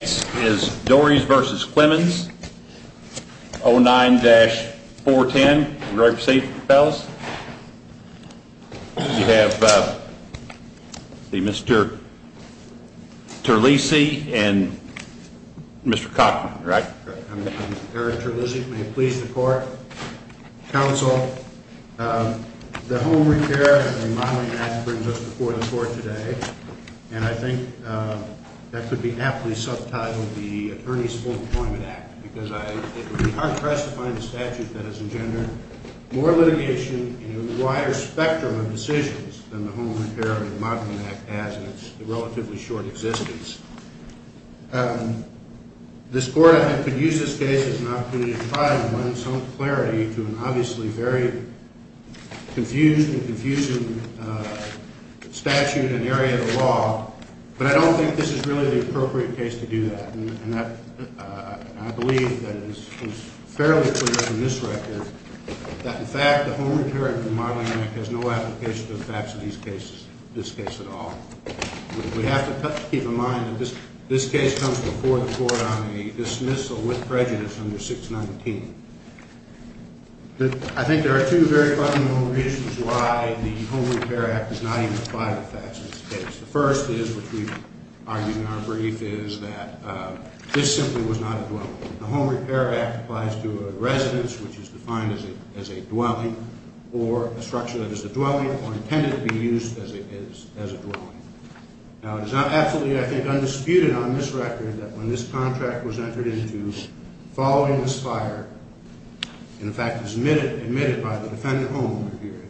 The case is Dorries v. Clemons, 09-410. Are you ready to proceed, fellas? We have Mr. Terlisi and Mr. Cochran, right? I'm Eric Terlisi. May it please the court? Counsel, the home repair and remodeling act brings us before the court today, and I think that could be aptly subtitled the Attorney's Full Employment Act, because it would be hard-pressed to find a statute that has engendered more litigation in a wider spectrum of decisions than the home repair and remodeling act has in its relatively short existence. This court, I think, could use this case as an opportunity to try to lend some clarity to an obviously very confused and confusing statute and area of the law, but I don't think this is really the appropriate case to do that, and I believe that it is fairly clear from this record that, in fact, the home repair and remodeling act has no application to the facts of these cases, this case at all. We have to keep in mind that this case comes before the court on a dismissal with prejudice under 619. I think there are two very fundamental reasons why the home repair act does not even apply to facts in this case. The first is, which we've argued in our brief, is that this simply was not a dwelling. The home repair act applies to a residence, which is defined as a dwelling, or a structure that is a dwelling or intended to be used as a dwelling. Now, it is absolutely, I think, undisputed on this record that when this contract was entered into following this fire, in fact, it was admitted by the defendant home repair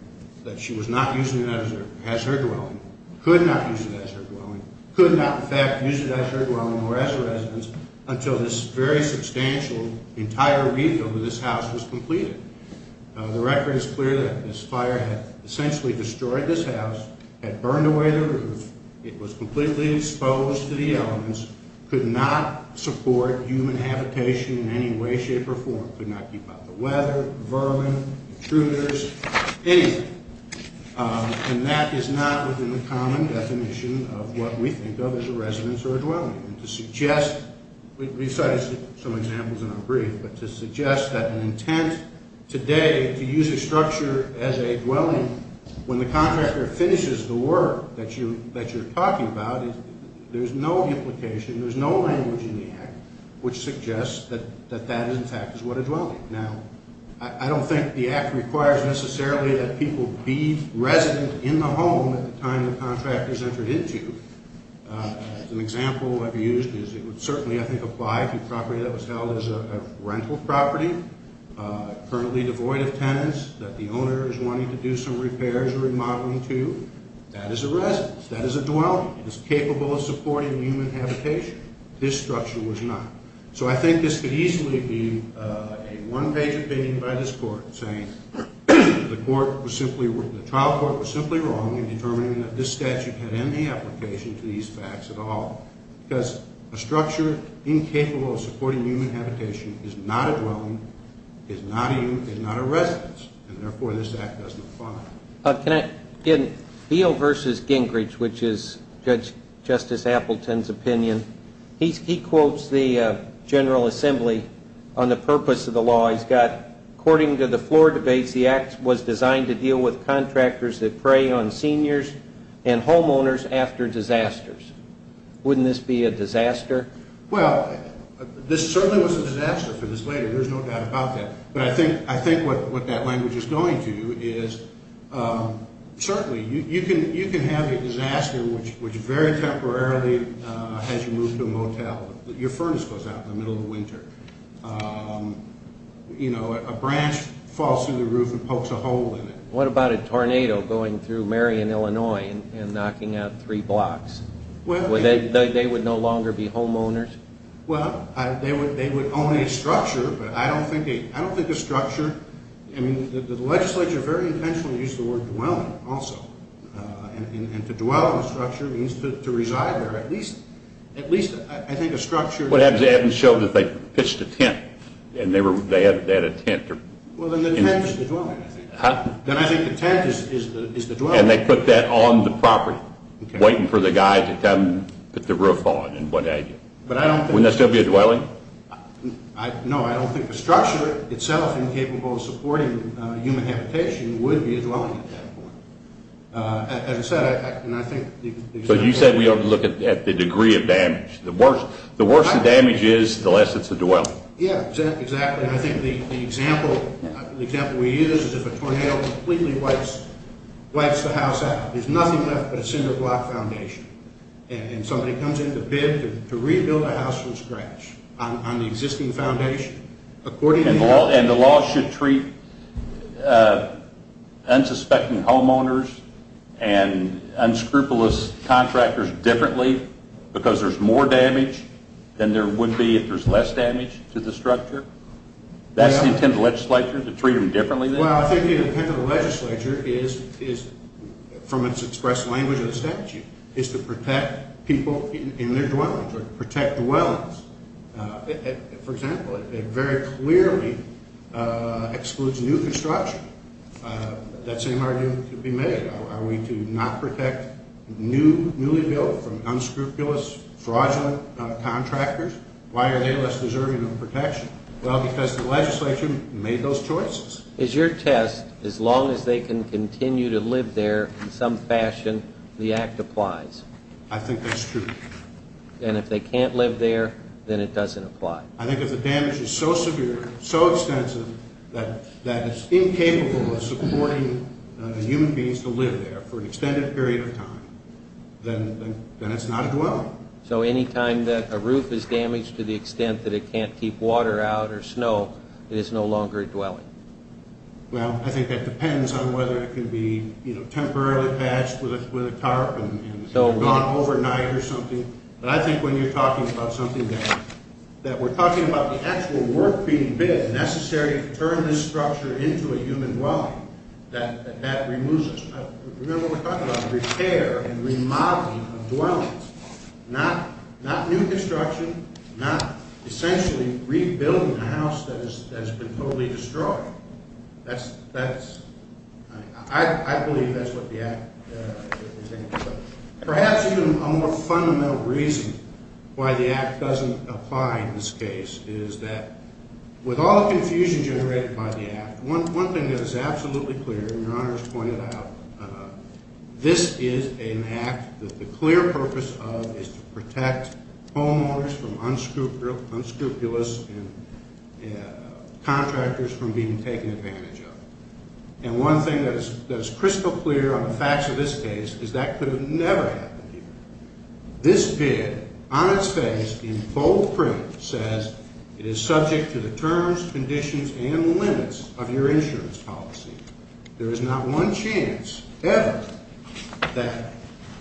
that she was not using it as her dwelling, could not use it as her dwelling, could not, in fact, use it as her dwelling or as a residence until this very substantial entire refill of this house was completed. The record is clear that this fire had essentially destroyed this house, had burned away the roof, it was completely exposed to the elements, could not support human habitation in any way, shape, or form, could not keep out the weather, vermin, intruders, anything. And that is not within the common definition of what we think of as a residence or a dwelling. And to suggest, we cited some examples in our brief, but to suggest that an intent today to use a structure as a dwelling, when the contractor finishes the work that you're talking about, there's no implication, there's no language in the Act which suggests that that, in fact, is what a dwelling. Now, I don't think the Act requires necessarily that people be resident in the home at the time the contract is entered into. An example I've used is it would certainly, I think, apply to property that was held as a rental property, currently devoid of tenants that the owner is wanting to do some repairs or remodeling to. That is a residence. That is a dwelling. It is capable of supporting human habitation. This structure was not. So I think this could easily be a one-page opinion by this Court saying the trial court was simply wrong in determining that this statute had any application to these facts at all because a structure incapable of supporting human habitation is not a dwelling, is not a residence, and therefore this Act doesn't apply. Can I, again, Beall v. Gingrich, which is Justice Appleton's opinion, he quotes the General Assembly on the purpose of the law. He's got, according to the floor debates, the Act was designed to deal with contractors that prey on seniors and homeowners after disasters. Wouldn't this be a disaster? Well, this certainly was a disaster for this later. There's no doubt about that. But I think what that language is going to is certainly you can have a disaster which very temporarily has you move to a motel. Your furnace goes out in the middle of winter. A branch falls through the roof and pokes a hole in it. What about a tornado going through Marion, Illinois and knocking out three blocks? They would no longer be homeowners? Well, they would own a structure, but I don't think a structure, I mean the legislature very intentionally used the word dwelling also, and to dwell in a structure means to reside there. At least, I think, a structure. What happens is they haven't showed that they pitched a tent, and they had a tent. Well, then the tent is the dwelling, I think. Then I think the tent is the dwelling. And they put that on the property, waiting for the guy to come put the roof on and what have you. Wouldn't that still be a dwelling? No, I don't think the structure itself, incapable of supporting human habitation, would be a dwelling at that point. As I said, I think the example we use… But you said we ought to look at the degree of damage. The worse the damage is, the less it's a dwelling. Yeah, exactly. I think the example we use is if a tornado completely wipes the house out. There's nothing left but a cinder block foundation. And somebody comes in to bid to rebuild a house from scratch on the existing foundation. And the law should treat unsuspecting homeowners and unscrupulous contractors differently because there's more damage than there would be if there's less damage to the structure? That's the intent of the legislature, to treat them differently? Well, I think the intent of the legislature is, from its express language of the statute, is to protect people in their dwellings or protect dwellings. For example, it very clearly excludes new construction. That same argument could be made. Are we to not protect newly built from unscrupulous, fraudulent contractors? Why are they less deserving of protection? Well, because the legislature made those choices. Is your test, as long as they can continue to live there in some fashion, the act applies? I think that's true. And if they can't live there, then it doesn't apply? I think if the damage is so severe, so extensive, that it's incapable of supporting the human beings to live there for an extended period of time, then it's not a dwelling. So any time that a roof is damaged to the extent that it can't keep water out or snow, it is no longer a dwelling. Well, I think that depends on whether it can be temporarily patched with a tarp and gone overnight or something. But I think when you're talking about something that we're talking about the actual work being done, necessary to turn this structure into a human dwelling, that that removes us. Remember what we're talking about, repair and remodeling of dwellings. Not new construction, not essentially rebuilding a house that has been totally destroyed. I believe that's what the act is aiming for. Perhaps even a more fundamental reason why the act doesn't apply in this case is that, with all the confusion generated by the act, one thing that is absolutely clear, and Your Honors pointed out, this is an act that the clear purpose of is to protect homeowners from unscrupulous and contractors from being taken advantage of. And one thing that is crystal clear on the facts of this case is that could have never happened here. This bid on its face in bold print says it is subject to the terms, conditions, and limits of your insurance policy. There is not one chance ever that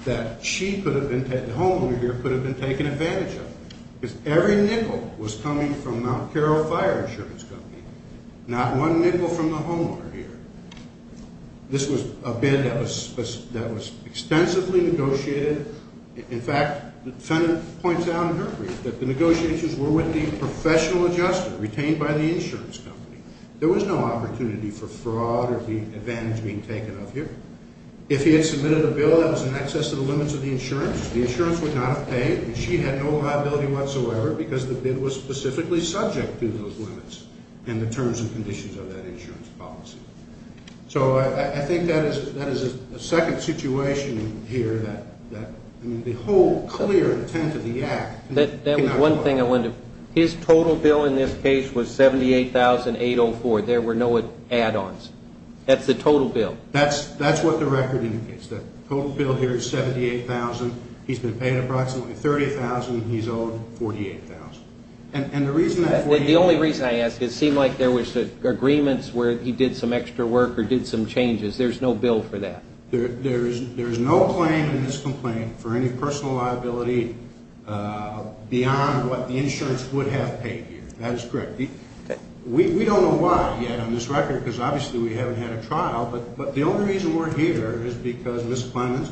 the homeowner here could have been taken advantage of. Because every nickel was coming from Mount Carroll Fire Insurance Company, not one nickel from the homeowner here. This was a bid that was extensively negotiated. In fact, the defendant points out in her brief that the negotiations were with the professional adjuster retained by the insurance company. There was no opportunity for fraud or advantage being taken of here. If he had submitted a bill that was in excess of the limits of the insurance, the insurance would not have paid, and she had no liability whatsoever because the bid was specifically subject to those limits and the terms and conditions of that insurance policy. So I think that is a second situation here that, I mean, the whole clear intent of the act cannot go. His total bill in this case was $78,804. There were no add-ons. That's the total bill. That's what the record indicates. The total bill here is $78,000. He's been paid approximately $30,000. He's owed $48,000. And the reason that $48,000. The only reason I ask, it seemed like there was agreements where he did some extra work or did some changes. There's no bill for that. There is no claim in this complaint for any personal liability beyond what the insurance would have paid here. That is correct. We don't know why yet on this record because obviously we haven't had a trial, but the only reason we're here is because Ms. Clements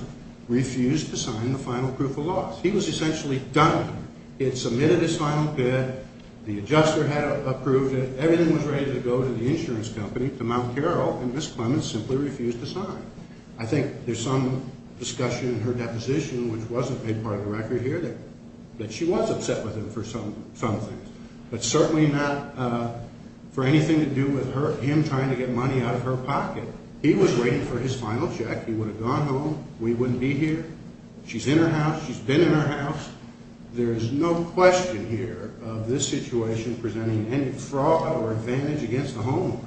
refused to sign the final proof of loss. He was essentially done. He had submitted his final bid. The adjuster had approved it. Everything was ready to go to the insurance company, to Mount Carroll, and Ms. Clements simply refused to sign. I think there's some discussion in her deposition, which wasn't made part of the record here, that she was upset with him for some things, but certainly not for anything to do with him trying to get money out of her pocket. He was waiting for his final check. He would have gone home. We wouldn't be here. She's in her house. She's been in her house. There is no question here of this situation presenting any fraud or advantage against the homeowner.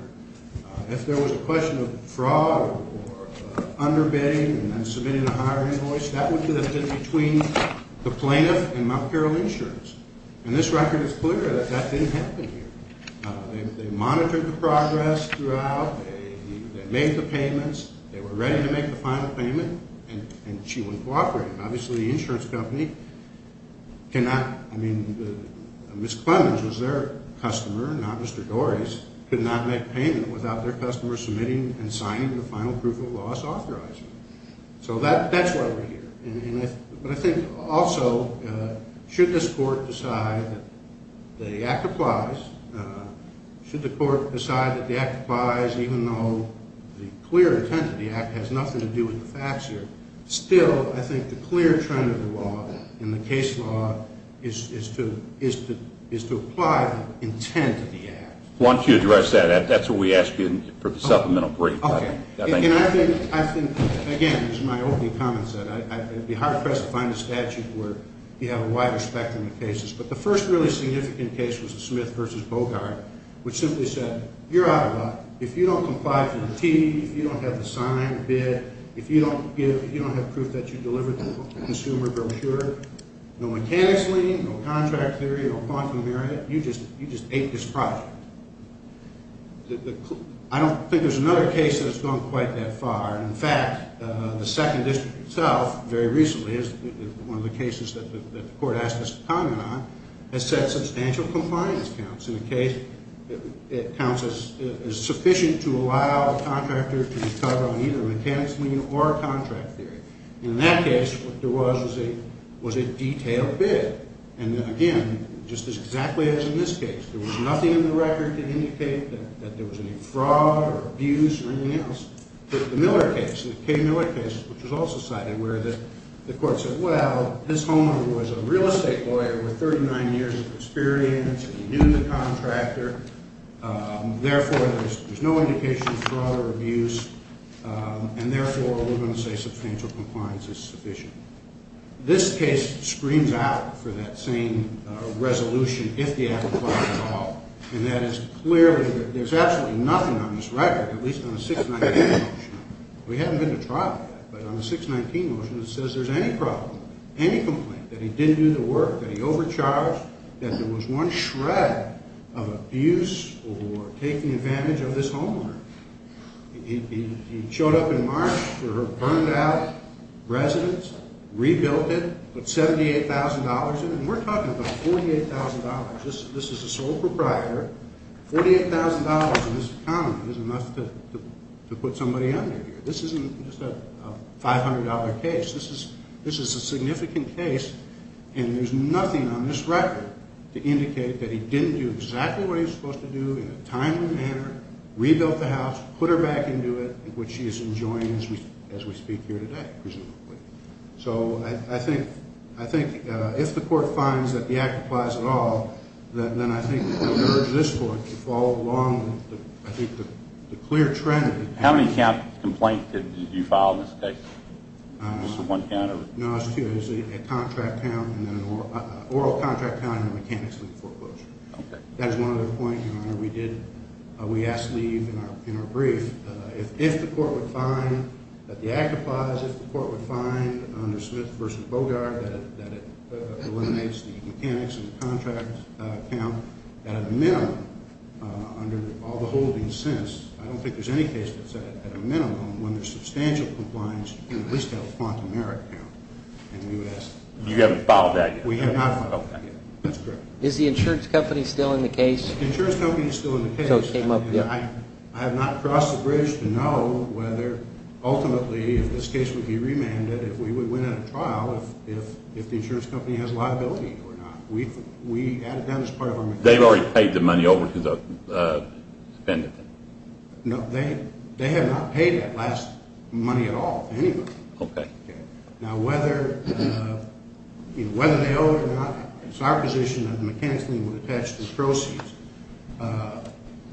If there was a question of fraud or underbidding and then submitting a higher invoice, that would be the difference between the plaintiff and Mount Carroll Insurance, and this record is clear that that didn't happen here. They monitored the progress throughout. They made the payments. They were ready to make the final payment, and she wouldn't cooperate. Obviously, the insurance company cannot, I mean, Ms. Clements was their customer, not Mr. Dory's, could not make payment without their customer submitting and signing the final proof of loss authorization. So that's why we're here, but I think also should this court decide that the act applies, should the court decide that the act applies even though the clear intent of the act has nothing to do with the facts here, still I think the clear trend of the law and the case law is to apply the intent of the act. I want you to address that. That's what we asked you for the supplemental brief. Okay. And I think, again, as my opening comment said, it would be hard for us to find a statute where you have a wider spectrum of cases, but the first really significant case was the Smith v. Bogart, which simply said, you're out of luck. If you don't comply for the T, if you don't have the sign, the bid, if you don't have proof that you delivered the consumer brochure, no mechanics lien, no contract theory, no quantum merit, you just ate this project. I don't think there's another case that has gone quite that far. In fact, the second district itself very recently, one of the cases that the court asked us to comment on, has said substantial compliance counts. It counts as sufficient to allow a contractor to be covered on either a mechanics lien or a contract theory. In that case, what there was was a detailed bid. And, again, just as exactly as in this case. There was nothing in the record to indicate that there was any fraud or abuse or anything else. But the Miller case, the K. Miller case, which was also cited, where the court said, well, this homeowner was a real estate lawyer with 39 years of experience. He knew the contractor. Therefore, there's no indication of fraud or abuse. And, therefore, we're going to say substantial compliance is sufficient. This case screams out for that same resolution, if the act applies at all. And that is clearly that there's absolutely nothing on this record, at least on the 619 motion. We haven't been to trial yet. But on the 619 motion, it says there's any problem, any complaint, that he didn't do the work, that he overcharged, that there was one shred of abuse or taking advantage of this homeowner. He showed up in March to her burned-out residence, rebuilt it, put $78,000 in it, and we're talking about $48,000. This is the sole proprietor. $48,000 in this economy is enough to put somebody under here. This isn't just a $500 case. This is a significant case, and there's nothing on this record to indicate that he didn't do exactly what he was supposed to do in a timely manner, rebuilt the house, put her back into it, which she is enjoying as we speak here today, presumably. So I think if the court finds that the act applies at all, then I think we'll urge this court to follow along with, I think, the clear trend. How many complaints did you file in this case? Was it one count? No, it was two. It was a contract count and an oral contract count and a mechanics leave foreclosure. Okay. That is one other point, Your Honor. We asked leave in our brief. If the court would find that the act applies, if the court would find under Smith v. Bogart that it eliminates the mechanics and the contract count at a minimum under all the holdings since, I don't think there's any case that said at a minimum, when there's substantial compliance, you can at least have a quantum merit count. And we would ask that. You haven't filed that yet? We have not filed that yet. That's correct. Is the insurance company still in the case? The insurance company is still in the case. So it came up, yeah. I have not crossed the bridge to know whether ultimately if this case would be remanded, if we would win at a trial, if the insurance company has a liability or not. We added that as part of our request. They've already paid the money over to the defendant? No. They have not paid that last money at all to anybody. Okay. Now, whether they owe it or not, it's our position that the mechanics would attach those proceeds.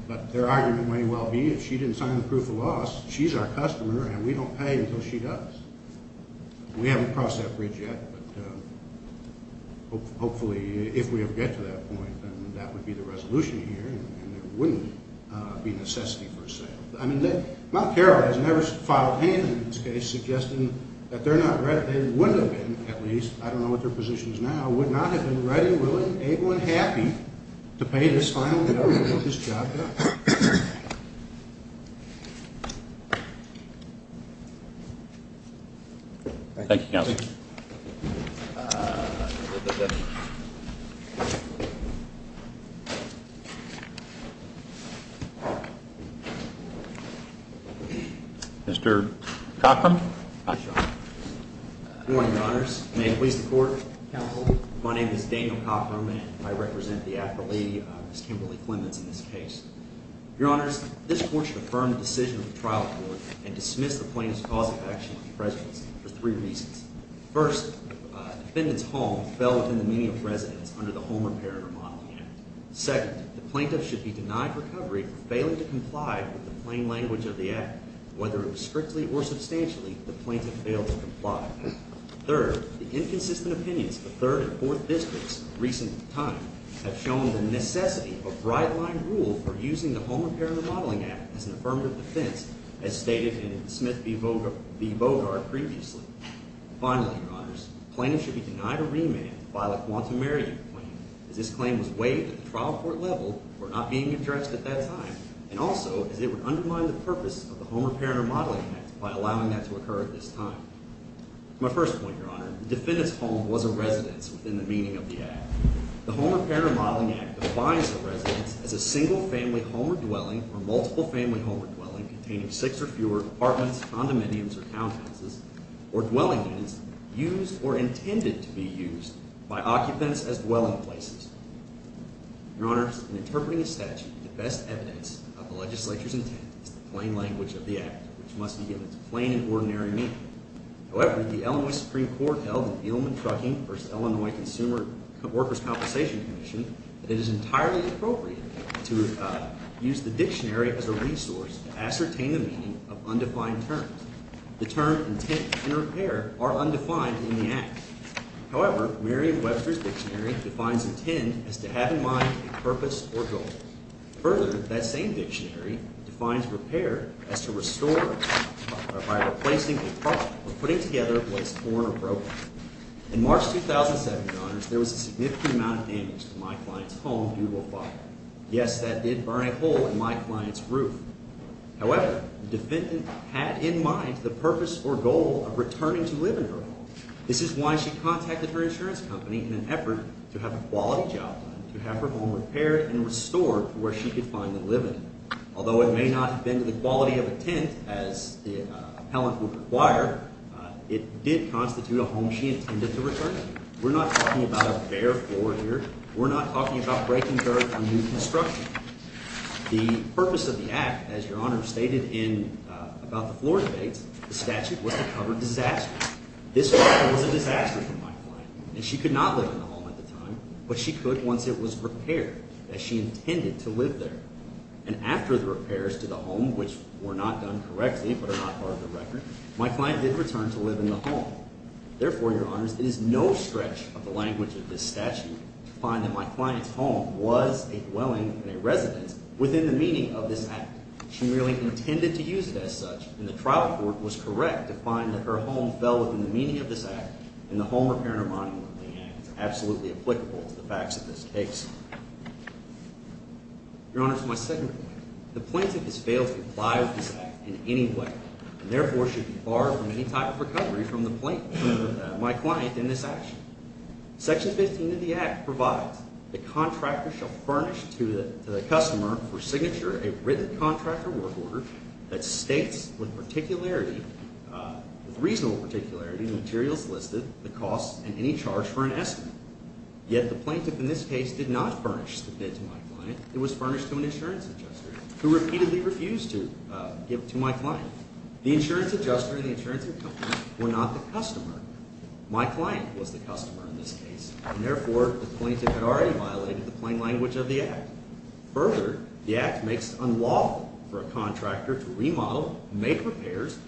But their argument may well be if she didn't sign the proof of loss, she's our customer and we don't pay until she does. We haven't crossed that bridge yet. But hopefully if we ever get to that point, then that would be the resolution here and there wouldn't be necessity for a sale. I mean, Mount Carroll has never filed any of them in this case suggesting that they're not ready. They wouldn't have been, at least. I don't know what their position is now. Would not have been ready, willing, able, and happy to pay this fine or whatever to get this job done. Thank you. Thank you, Counsel. Mr. Cochran. Good morning, Your Honors. May it please the Court, Counsel, my name is Daniel Cochran and I represent the affilee, Ms. Kimberly Clements, in this case. Your Honors, this Court should affirm the decision of the trial court and dismiss the plaintiff's cause of action on the precedence for three reasons. First, the defendant's home fell within the meaning of residence under the Home Repair and Remodeling Act. Second, the plaintiff should be denied recovery for failing to comply with the plain language of the act, whether it was strictly or substantially, the plaintiff failed to comply. Third, the inconsistent opinions of the third and fourth districts of recent time have shown the necessity of a bright-line rule for using the Home Repair and Remodeling Act as an affirmative defense, as stated in Smith v. Bogart previously. Finally, Your Honors, the plaintiff should be denied a remand by the quantum meriting claim as this claim was waived at the trial court level for not being addressed at that time, and also as it would undermine the purpose of the Home Repair and Remodeling Act by allowing that to occur at this time. My first point, Your Honor, the defendant's home was a residence within the meaning of the act. The Home Repair and Remodeling Act defines a residence as a single-family home or dwelling or multiple-family home or dwelling containing six or fewer apartments, condominiums or townhouses or dwelling units used or intended to be used by occupants as dwelling places. Your Honors, in interpreting a statute, the best evidence of the legislature's intent is the plain language of the act, which must be given its plain and ordinary meaning. However, the Illinois Supreme Court held in the Edelman Trucking v. Illinois Consumer Workers' Compensation Commission that it is entirely appropriate to use the dictionary as a resource to ascertain the meaning of undefined terms. The term intent and repair are undefined in the act. However, Merriam-Webster's dictionary defines intent as to have in mind a purpose or goal. Further, that same dictionary defines repair as to restore or by replacing or putting together what is torn or broken. In March 2007, Your Honors, there was a significant amount of damage to my client's home due to a fire. Yes, that did burn a hole in my client's roof. However, the defendant had in mind the purpose or goal of returning to live in her home. This is why she contacted her insurance company in an effort to have a quality job plan to have her home repaired and restored to where she could finally live in it. Although it may not have been to the quality of a tent, as the appellant would require, it did constitute a home she intended to return to. We're not talking about a bare floor here. We're not talking about breaking dirt or new construction. The purpose of the act, as Your Honor stated about the floor debates, the statute was to cover disaster. This property was a disaster for my client, and she could not live in the home at the time, but she could once it was repaired, as she intended to live there. And after the repairs to the home, which were not done correctly but are not part of the record, my client did return to live in the home. Therefore, Your Honors, it is no stretch of the language of this statute to find that my client's home was a dwelling and a residence within the meaning of this act. She really intended to use it as such, and the trial court was correct to find that her home fell within the meaning of this act and the Home Repair and Remodeling Act is absolutely applicable to the facts of this case. Your Honors, my second point. The plaintiff has failed to comply with this act in any way and therefore should be barred from any type of recovery from my client in this action. Section 15 of the act provides, the contractor shall furnish to the customer for signature a written contractor work order that states with reasonable particularity the materials listed, the cost, and any charge for an estimate. Yet the plaintiff in this case did not furnish the bid to my client. It was furnished to an insurance adjuster who repeatedly refused to give to my client. The insurance adjuster and the insurance company were not the customer. My client was the customer in this case, and therefore the plaintiff had already violated the plain language of the act. Further, the act makes it unlawful for a contractor to remodel, make repairs,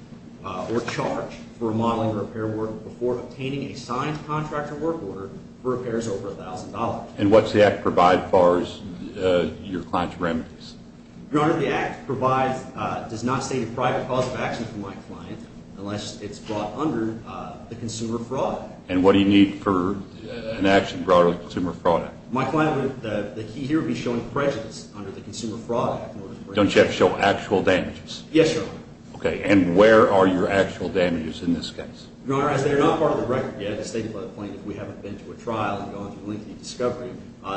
or charge for a modeling repair work order before obtaining a signed contractor work order for repairs over $1,000. And what does the act provide as far as your client's remedies? Your Honor, the act does not state a private cause of action for my client unless it's brought under the Consumer Fraud Act. And what do you need for an action brought under the Consumer Fraud Act? My client, the key here would be showing prejudice under the Consumer Fraud Act. Don't you have to show actual damages? Yes, Your Honor. Okay, and where are your actual damages in this case? Your Honor, as they're not part of the record yet, as stated by the plaintiff, we haven't been to a trial and gone through lengthy discovery,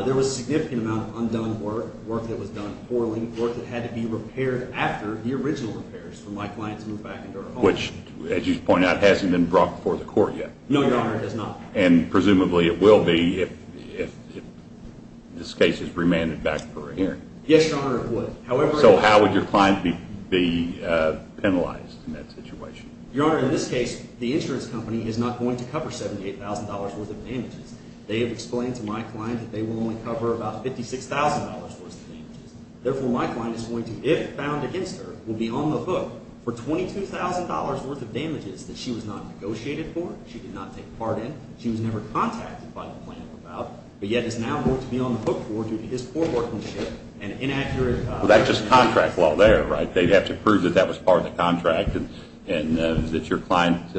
there was a significant amount of undone work, work that was done poorly, work that had to be repaired after the original repairs for my client to move back into her home. Which, as you point out, hasn't been brought before the court yet. No, Your Honor, it has not. And presumably it will be if this case is remanded back for a hearing. Yes, Your Honor, it would. So how would your client be penalized in that situation? Your Honor, in this case, the insurance company is not going to cover $78,000 worth of damages. They have explained to my client that they will only cover about $56,000 worth of damages. Therefore, my client is going to, if found against her, will be on the hook for $22,000 worth of damages that she was not negotiated for, she did not take part in, she was never contacted by the plaintiff about, but yet is now going to be on the hook for due to his poor workmanship and inaccurate… Well, that's just contract law there, right? They'd have to prove that that was part of the contract and that your client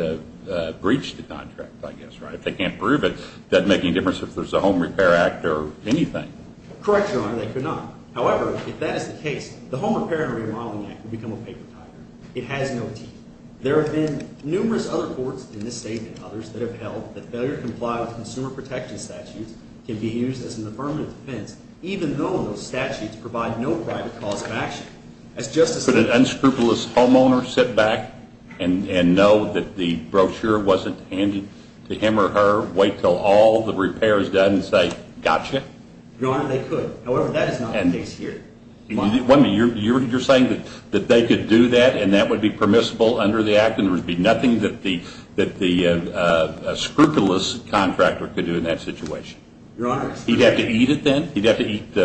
breached the contract, I guess, right? If they can't prove it, it doesn't make any difference if there's a Home Repair Act or anything. Correct, Your Honor, they could not. However, if that is the case, the Home Repair and Remodeling Act would become a paper tiger. It has no teeth. There have been numerous other courts in this state and others that have held that failure to comply with consumer protection statutes can be used as an affirmative defense, even though those statutes provide no private cause of action. Could an unscrupulous homeowner sit back and know that the brochure wasn't handy to him or her, wait until all the repair is done and say, gotcha? Your Honor, they could. However, that is not the case here. You're saying that they could do that and that would be permissible under the act and there would be nothing that the scrupulous contractor could do in that situation? Your Honor… He'd have to eat it then? He'd have to eat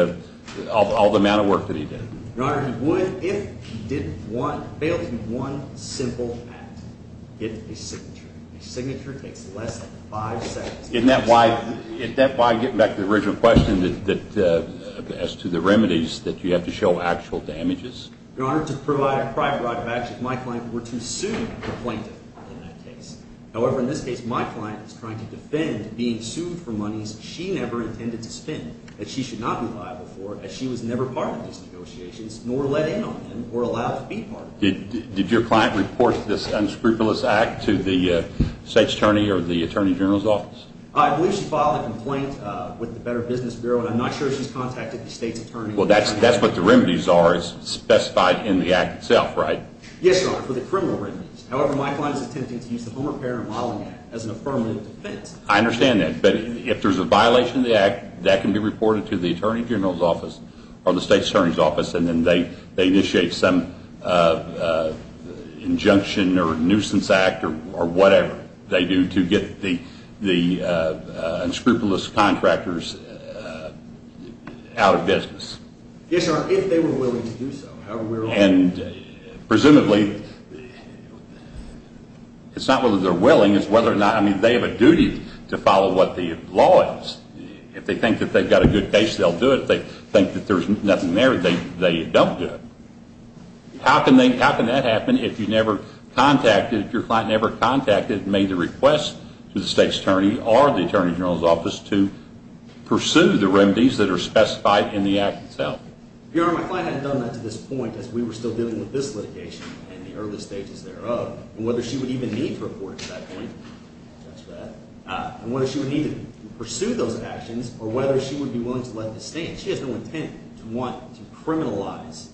all the amount of work that he did? Your Honor, he would if he failed to do one simple act, get a signature. A signature takes less than five seconds. Isn't that why, getting back to the original question as to the remedies, that you have to show actual damages? Your Honor, to provide a private right of action, my client were to sue the plaintiff in that case. However, in this case, my client is trying to defend being sued for monies she never intended to spend, that she should not be liable for as she was never part of these negotiations, nor let in on them or allowed to be part of them. Did your client report this unscrupulous act to the State's Attorney or the Attorney General's office? I believe she filed a complaint with the Better Business Bureau and I'm not sure if she's contacted the State's Attorney or… Well, that's what the remedies are specified in the act itself, right? Yes, Your Honor, for the criminal remedies. However, my client is attempting to use the Home Repair and Modeling Act as an affirmative defense. I understand that, but if there's a violation of the act, that can be reported to the Attorney General's office or the State's Attorney's office and then they initiate some injunction or nuisance act or whatever they do to get the unscrupulous contractors out of business. Yes, Your Honor, if they were willing to do so. And presumably, it's not whether they're willing, it's whether or not… they're willing to follow what the law is. If they think that they've got a good case, they'll do it. If they think that there's nothing there, they don't do it. How can that happen if you never contacted, if your client never contacted and made the request to the State's Attorney or the Attorney General's office to pursue the remedies that are specified in the act itself? Your Honor, my client had done that to this point as we were still dealing with this litigation and the early stages thereof, and whether she would even need to report to that point, and whether she would need to pursue those actions or whether she would be willing to let this stand. She has no intent to want to criminalize…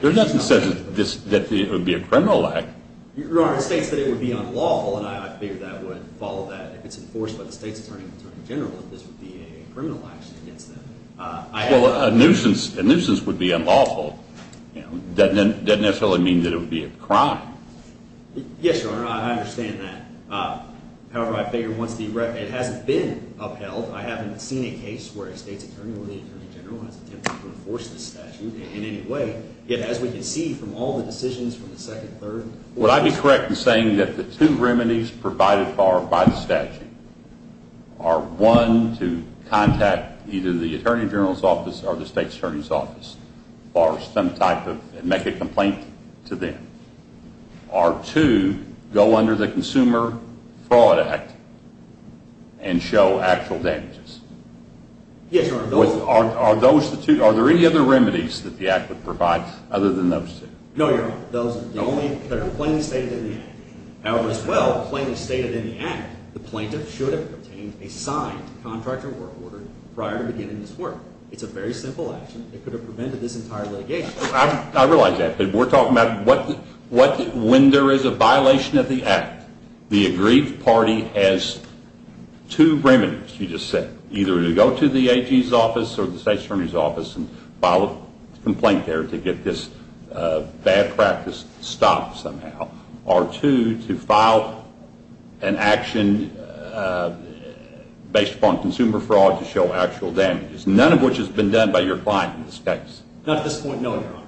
There's nothing that says that it would be a criminal act. Your Honor, it states that it would be unlawful, and I figure that would follow that. If it's enforced by the State's Attorney or the Attorney General, that this would be a criminal action against them. Well, a nuisance would be unlawful. That doesn't necessarily mean that it would be a crime. Yes, Your Honor, I understand that. However, I figure once the… it hasn't been upheld. I haven't seen a case where a State's Attorney or the Attorney General has attempted to enforce this statute in any way. Yet, as we can see from all the decisions from the second, third… Would I be correct in saying that the two remedies provided by the statute are one, to contact either the Attorney General's office or the State's Attorney's office for some type of… and make a complaint to them? Or two, go under the Consumer Fraud Act and show actual damages? Yes, Your Honor. Are those the two? Are there any other remedies that the act would provide other than those two? No, Your Honor. Those are the only that are plainly stated in the act. However, as well, plainly stated in the act, the plaintiff should have obtained a signed contractual work order prior to beginning this work. It's a very simple action that could have prevented this entire litigation. I realize that, but we're talking about when there is a violation of the act, the aggrieved party has two remedies, you just said. Either to go to the AG's office or the State's Attorney's office and file a complaint there to get this bad practice stopped somehow. Or two, to file an action based upon consumer fraud to show actual damages. None of which has been done by your client in this case. Not at this point, no, Your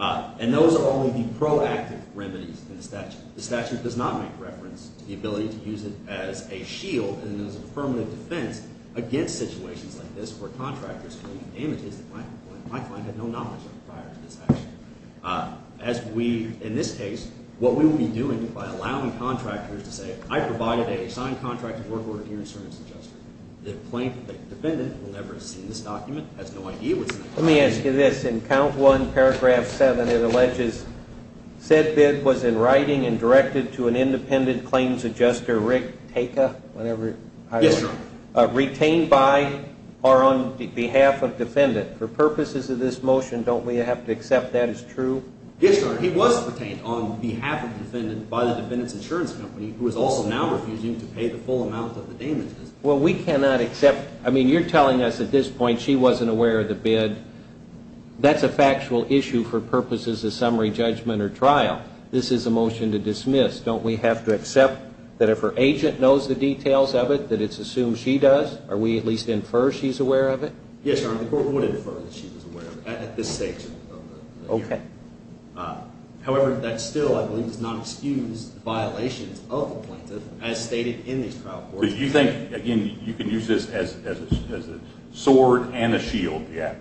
Honor. And those are only the proactive remedies in the statute. The statute does not make reference to the ability to use it as a shield and as a permanent defense against situations like this where contractors can do damages that my client had no knowledge of prior to this action. As we, in this case, what we will be doing by allowing contractors to say, I provided a signed contractual work order in your insurance adjustment, the plaintiff, the defendant, will never see this document, has no idea what's in it. Let me ask you this. In count one, paragraph seven, it alleges said bid was in writing and directed to an independent claims adjuster, Rick Taka, whatever. Yes, Your Honor. Retained by or on behalf of defendant. For purposes of this motion, don't we have to accept that as true? Yes, Your Honor. He was retained on behalf of the defendant by the defendant's insurance company who is also now refusing to pay the full amount of the damages. Well, we cannot accept. I mean, you're telling us at this point she wasn't aware of the bid. That's a factual issue for purposes of summary judgment or trial. This is a motion to dismiss. Don't we have to accept that if her agent knows the details of it, that it's assumed she does? Are we at least infer she's aware of it? Yes, Your Honor. The court would infer that she was aware of it at this stage of the hearing. Okay. However, that still, I believe, does not excuse the violations of the plaintiff But you think, again, you can use this as a sword and a shield? Yes.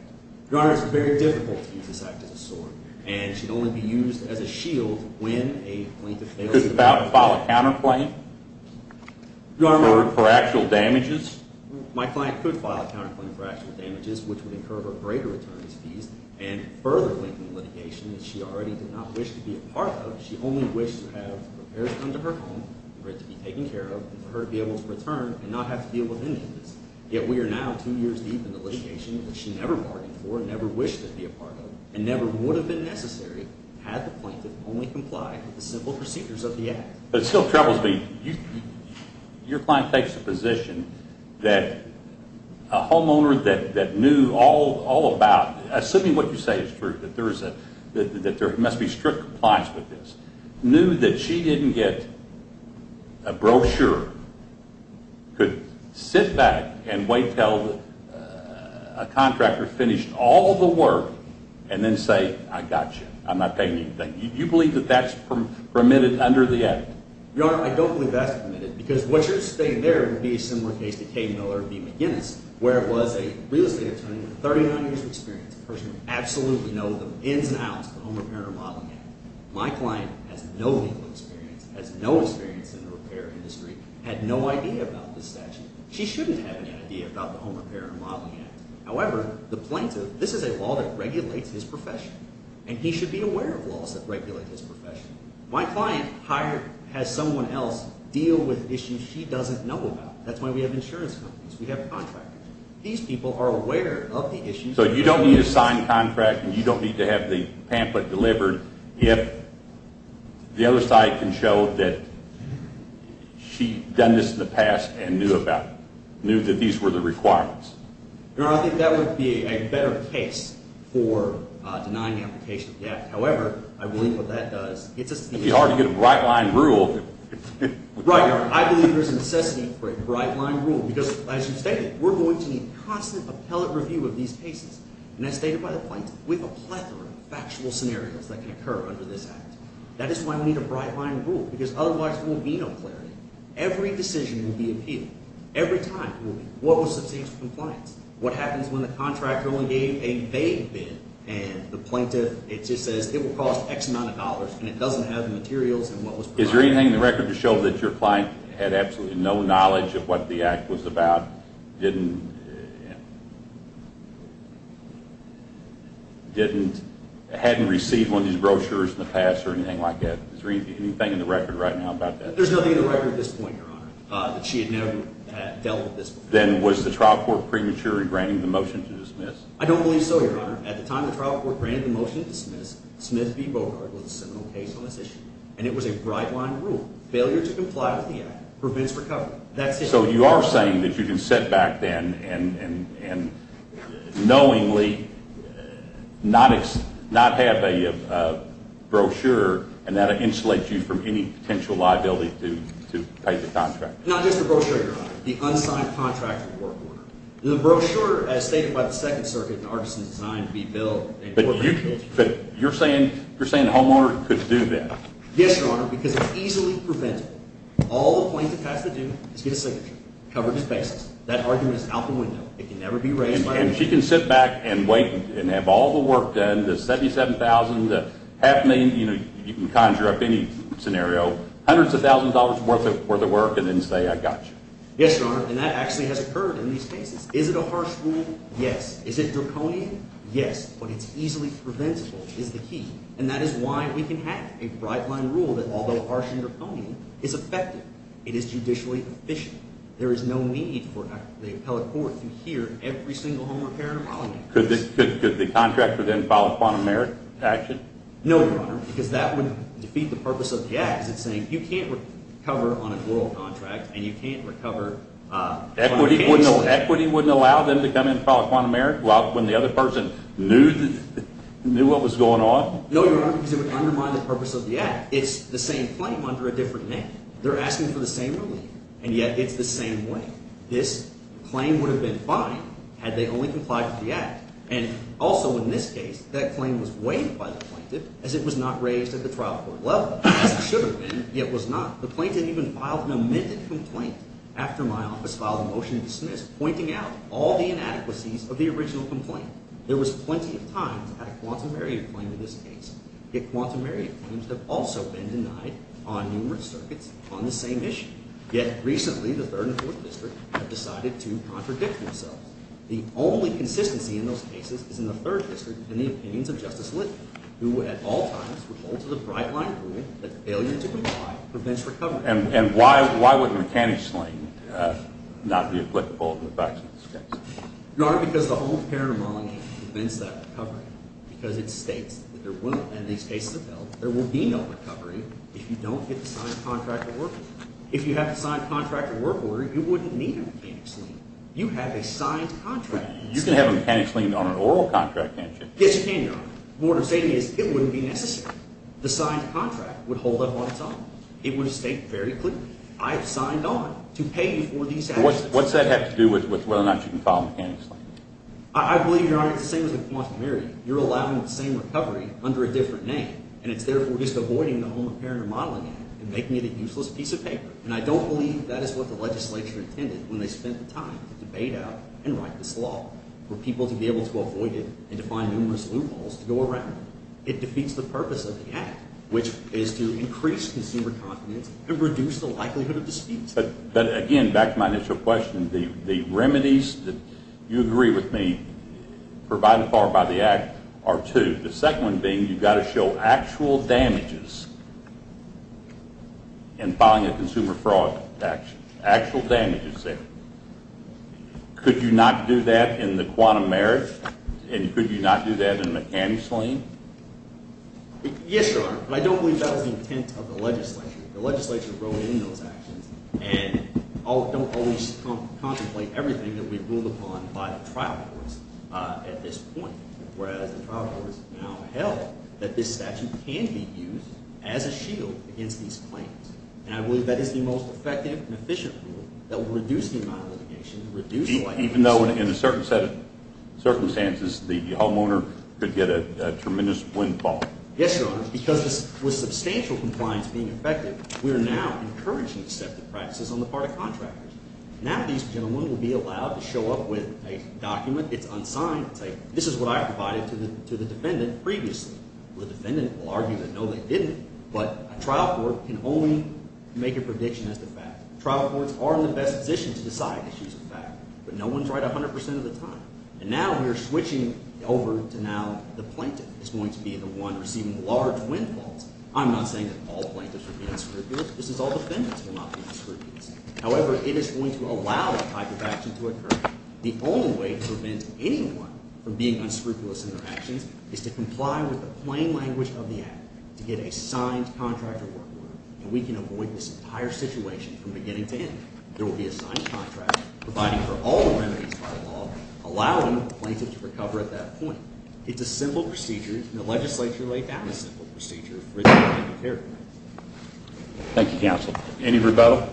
Your Honor, it's very difficult to use this act as a sword. And it should only be used as a shield when a plaintiff fails to do so. You could file a counterclaim for actual damages. My client could file a counterclaim for actual damages, which would incur her greater attorney's fees and further lengthen the litigation that she already did not wish to be a part of. She only wished to have her parents come to her home and for it to be taken care of and for her to be able to return and not have to deal with any of this. Yet we are now two years deep in the litigation that she never bargained for, never wished to be a part of, and never would have been necessary had the plaintiff only complied with the simple procedures of the act. But it still troubles me. Your client takes the position that a homeowner that knew all about, assuming what you say is true, that there must be strict compliance with this, knew that she didn't get a brochure, could sit back and wait until a contractor finished all the work, and then say, I got you. I'm not paying you anything. Do you believe that that's permitted under the act? Your Honor, I don't believe that's permitted, because what you're saying there would be a similar case to Kay Miller v. McGinnis, where it was a real estate attorney with 39 years of experience, a person who absolutely knows the ins and outs of the Home Repair and Remodeling Act. My client has no legal experience, has no experience in the repair industry, had no idea about this statute. She shouldn't have any idea about the Home Repair and Remodeling Act. However, the plaintiff, this is a law that regulates his profession, and he should be aware of laws that regulate his profession. My client has someone else deal with issues she doesn't know about. That's why we have insurance companies. We have contractors. These people are aware of the issues. So you don't need a signed contract, and you don't need to have the pamphlet delivered, if the other side can show that she's done this in the past and knew about it, knew that these were the requirements. Your Honor, I think that would be a better case for denying the application of the act. However, I believe what that does, it gets us to the issue. It would be hard to get a right-line rule. Right, Your Honor. I believe there's a necessity for a right-line rule, because, as you stated, we're going to need constant appellate review of these cases. And as stated by the plaintiff, we have a plethora of factual scenarios that can occur under this act. That is why we need a right-line rule, because otherwise there will be no clarity. Every decision will be appealed. Every time it will be. What was substantial compliance? What happens when the contractor only gave a vague bid, and the plaintiff says it will cost X amount of dollars, and it doesn't have the materials and what was provided? Is there anything in the record to show that your client had absolutely no knowledge of what the act was about, didn't receive one of these brochures in the past or anything like that? Is there anything in the record right now about that? There's nothing in the record at this point, Your Honor, that she had never dealt with this before. Then was the trial court premature in granting the motion to dismiss? I don't believe so, Your Honor. At the time the trial court granted the motion to dismiss, Smith v. Bogart was the seminal case on this issue. And it was a right-line rule. Failure to comply with the act prevents recovery. That's it. So you are saying that you can sit back then and knowingly not have a brochure, and that would insulate you from any potential liability to take the contract? Not just the brochure, Your Honor. The unsigned contract of the work order. The brochure, as stated by the Second Circuit, in Artisan Design, to be billed, But you're saying the homeowner could do that? Yes, Your Honor, because it's easily preventable. All the plaintiff has to do is get a signature, cover his face. That argument is out the window. It can never be raised by a witness. And she can sit back and wait and have all the work done, the $77,000, the half million you can conjure up any scenario, hundreds of thousands of dollars worth of work, and then say, I got you. Yes, Your Honor, and that actually has occurred in these cases. Is it a harsh rule? Yes. Is it draconian? Yes, but it's easily preventable is the key, and that is why we can have a bright-line rule that, although harsh and draconian, is effective. It is judicially efficient. There is no need for the appellate court to hear every single home repair in a while. Could the contractor then file a quantum merit action? No, Your Honor, because that would defeat the purpose of the act. It's saying you can't recover on an oral contract, and you can't recover on a cancellation. Equity wouldn't allow them to come in and file a quantum merit when the other person knew what was going on? No, Your Honor, because it would undermine the purpose of the act. It's the same claim under a different name. They're asking for the same relief, and yet it's the same way. This claim would have been fine had they only complied with the act. And also in this case, that claim was waived by the plaintiff as it was not raised at the trial court level. As it should have been, yet was not. The plaintiff even filed an amended complaint after my office filed a motion to dismiss, pointing out all the inadequacies of the original complaint. There was plenty of times I had a quantum merit claim in this case. Yet quantum merit claims have also been denied on numerous circuits on the same issue. Yet recently, the Third and Fourth District have decided to contradict themselves. The only consistency in those cases is in the Third District and the opinions of Justice Littman, who at all times would hold to the bright-line agreement that failure to comply prevents recovery. And why would mechanic's lien not be applicable in the facts of this case? Your Honor, because the whole paranoid monarchy prevents that recovery because it states that there will be no recovery if you don't get the signed contract of work order. If you have the signed contract of work order, you wouldn't need a mechanic's lien. You have a signed contract of work order. You can have a mechanic's lien on an oral contract, can't you? Yes, you can, Your Honor. The point I'm stating is it wouldn't be necessary. The signed contract would hold up on its own. It would have stayed very clear. I have signed on to pay you for these actions. What's that have to do with whether or not you can file a mechanic's lien? I believe, Your Honor, it's the same as with quantum merit. You're allowing the same recovery under a different name. And it's therefore just avoiding the home apparent remodeling act and making it a useless piece of paper. And I don't believe that is what the legislature intended when they spent the time to debate out and write this law for people to be able to avoid it and to find numerous loopholes to go around. It defeats the purpose of the act, which is to increase consumer confidence and reduce the likelihood of disputes. But, again, back to my initial question, the remedies that you agree with me provided for by the act are two. The second one being you've got to show actual damages in filing a consumer fraud action, actual damages there. Could you not do that in the quantum merit? And could you not do that in a mechanic's lien? Yes, Your Honor, but I don't believe that was the intent of the legislature. The legislature wrote in those actions and don't always contemplate everything that we've ruled upon by the trial courts at this point. Whereas the trial courts now held that this statute can be used as a shield against these claims. And I believe that is the most effective and efficient rule that will reduce the amount of litigation, reduce the likelihood of disputes. Even though in a certain set of circumstances the homeowner could get a tremendous windfall? Yes, Your Honor, because with substantial compliance being effective, we are now encouraging deceptive practices on the part of contractors. Now these gentlemen will be allowed to show up with a document. It's unsigned. It's like, this is what I provided to the defendant previously. The defendant will argue that, no, they didn't, but a trial court can only make a prediction as to fact. Trial courts are in the best position to decide issues of fact, but no one's right 100 percent of the time. And now we are switching over to now the plaintiff is going to be the one receiving large windfalls. I'm not saying that all plaintiffs will be unscrupulous. This is all defendants will not be unscrupulous. However, it is going to allow that type of action to occur. The only way to prevent anyone from being unscrupulous in their actions is to comply with the plain language of the act, to get a signed contract to work with them. And we can avoid this entire situation from beginning to end. There will be a signed contract providing for all remedies by law, allowing the plaintiff to recover at that point. It's a simple procedure in a legislature-like and a simple procedure for it to be taken care of. Thank you, counsel. Any rebuttal?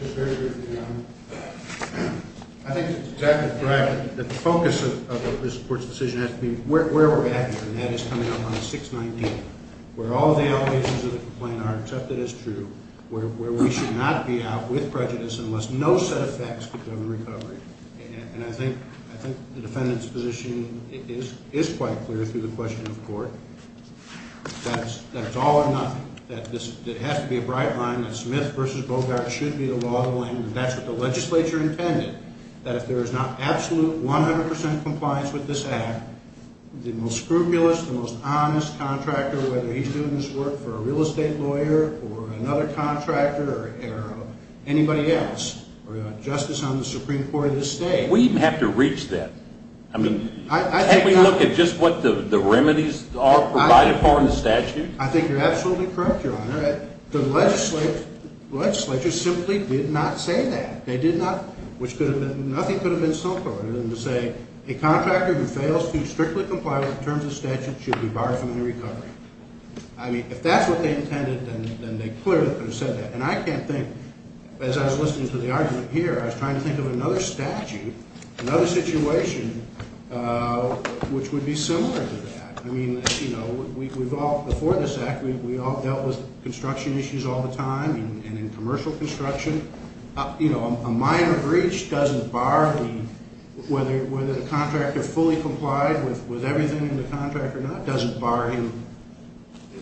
Just very briefly, Your Honor. I think it's exactly correct that the focus of this court's decision has to be where we're at here, and that is coming up on 619, where all the allegations of the complaint are accepted as true, where we should not be out with prejudice unless no set of facts could govern recovery. And I think the defendant's position is quite clear through the question of court. That it's all or nothing, that it has to be a bright line, that Smith v. Bogart should be the law of the land, and that's what the legislature intended, that if there is not absolute, 100 percent compliance with this act, the most scrupulous, the most honest contractor, whether he's doing this work for a real estate lawyer or another contractor or anybody else, or a justice on the Supreme Court of the state... We have to reach that. I mean, can't we look at just what the remedies are provided for in the statute? I think you're absolutely correct, Your Honor. The legislature simply did not say that. They did not, which could have been, nothing could have been simpler than to say, a contractor who fails to strictly comply with the terms of statute should be barred from any recovery. I mean, if that's what they intended, then they clearly could have said that. And I can't think, as I was listening to the argument here, I was trying to think of another statute, another situation which would be similar to that. I mean, you know, we've all, before this act, we all dealt with construction issues all the time, and in commercial construction, you know, a minor breach doesn't bar the, whether the contractor fully complied with everything in the contract or not, doesn't bar him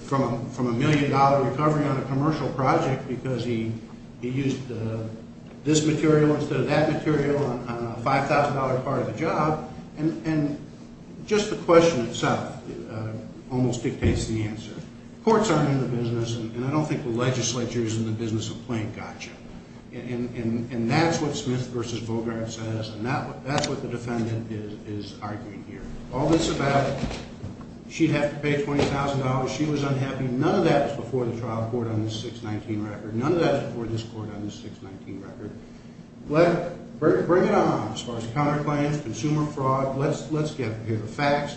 from a million-dollar recovery on a commercial project because he used this material instead of that material on a $5,000 part of the job. And just the question itself almost dictates the answer. Courts aren't in the business, and I don't think the legislature is in the business of playing gotcha. And that's what Smith v. Bogart says, and that's what the defendant is arguing here. All this about she'd have to pay $20,000, she was unhappy. None of that was before the trial court on the 619 record. None of that was before this court on the 619 record. Let's bring it on as far as counterclaims, consumer fraud. Let's get to the facts.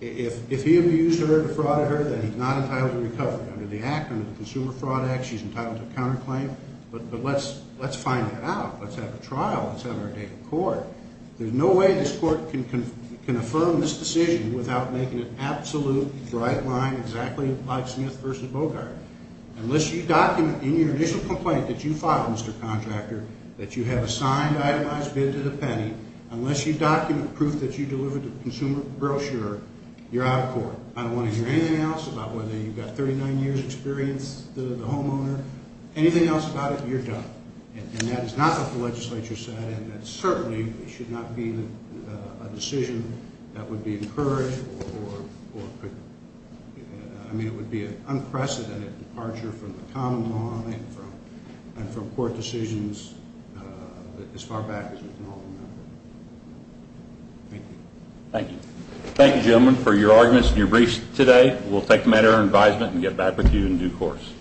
If he abused her, defrauded her, then he's not entitled to recovery under the Act, under the Consumer Fraud Act, she's entitled to a counterclaim. But let's find that out. Let's have a trial. Let's have her take a court. There's no way this court can affirm this decision without making an absolute right line exactly like Smith v. Bogart. Unless you document in your initial complaint that you filed, Mr. Contractor, that you have a signed itemized bid to the penny, unless you document proof that you delivered the consumer brochure, you're out of court. I don't want to hear anything else about whether you've got 39 years' experience, the homeowner, anything else about it, you're done. And that is not what the legislature said, and that certainly should not be a decision that would be encouraged or could, I mean, it would be an unprecedented departure from the common law and from court decisions as far back as we can all remember. Thank you. Thank you. Thank you, gentlemen, for your arguments and your briefs today. We'll take them at our advisement and get back with you in due course.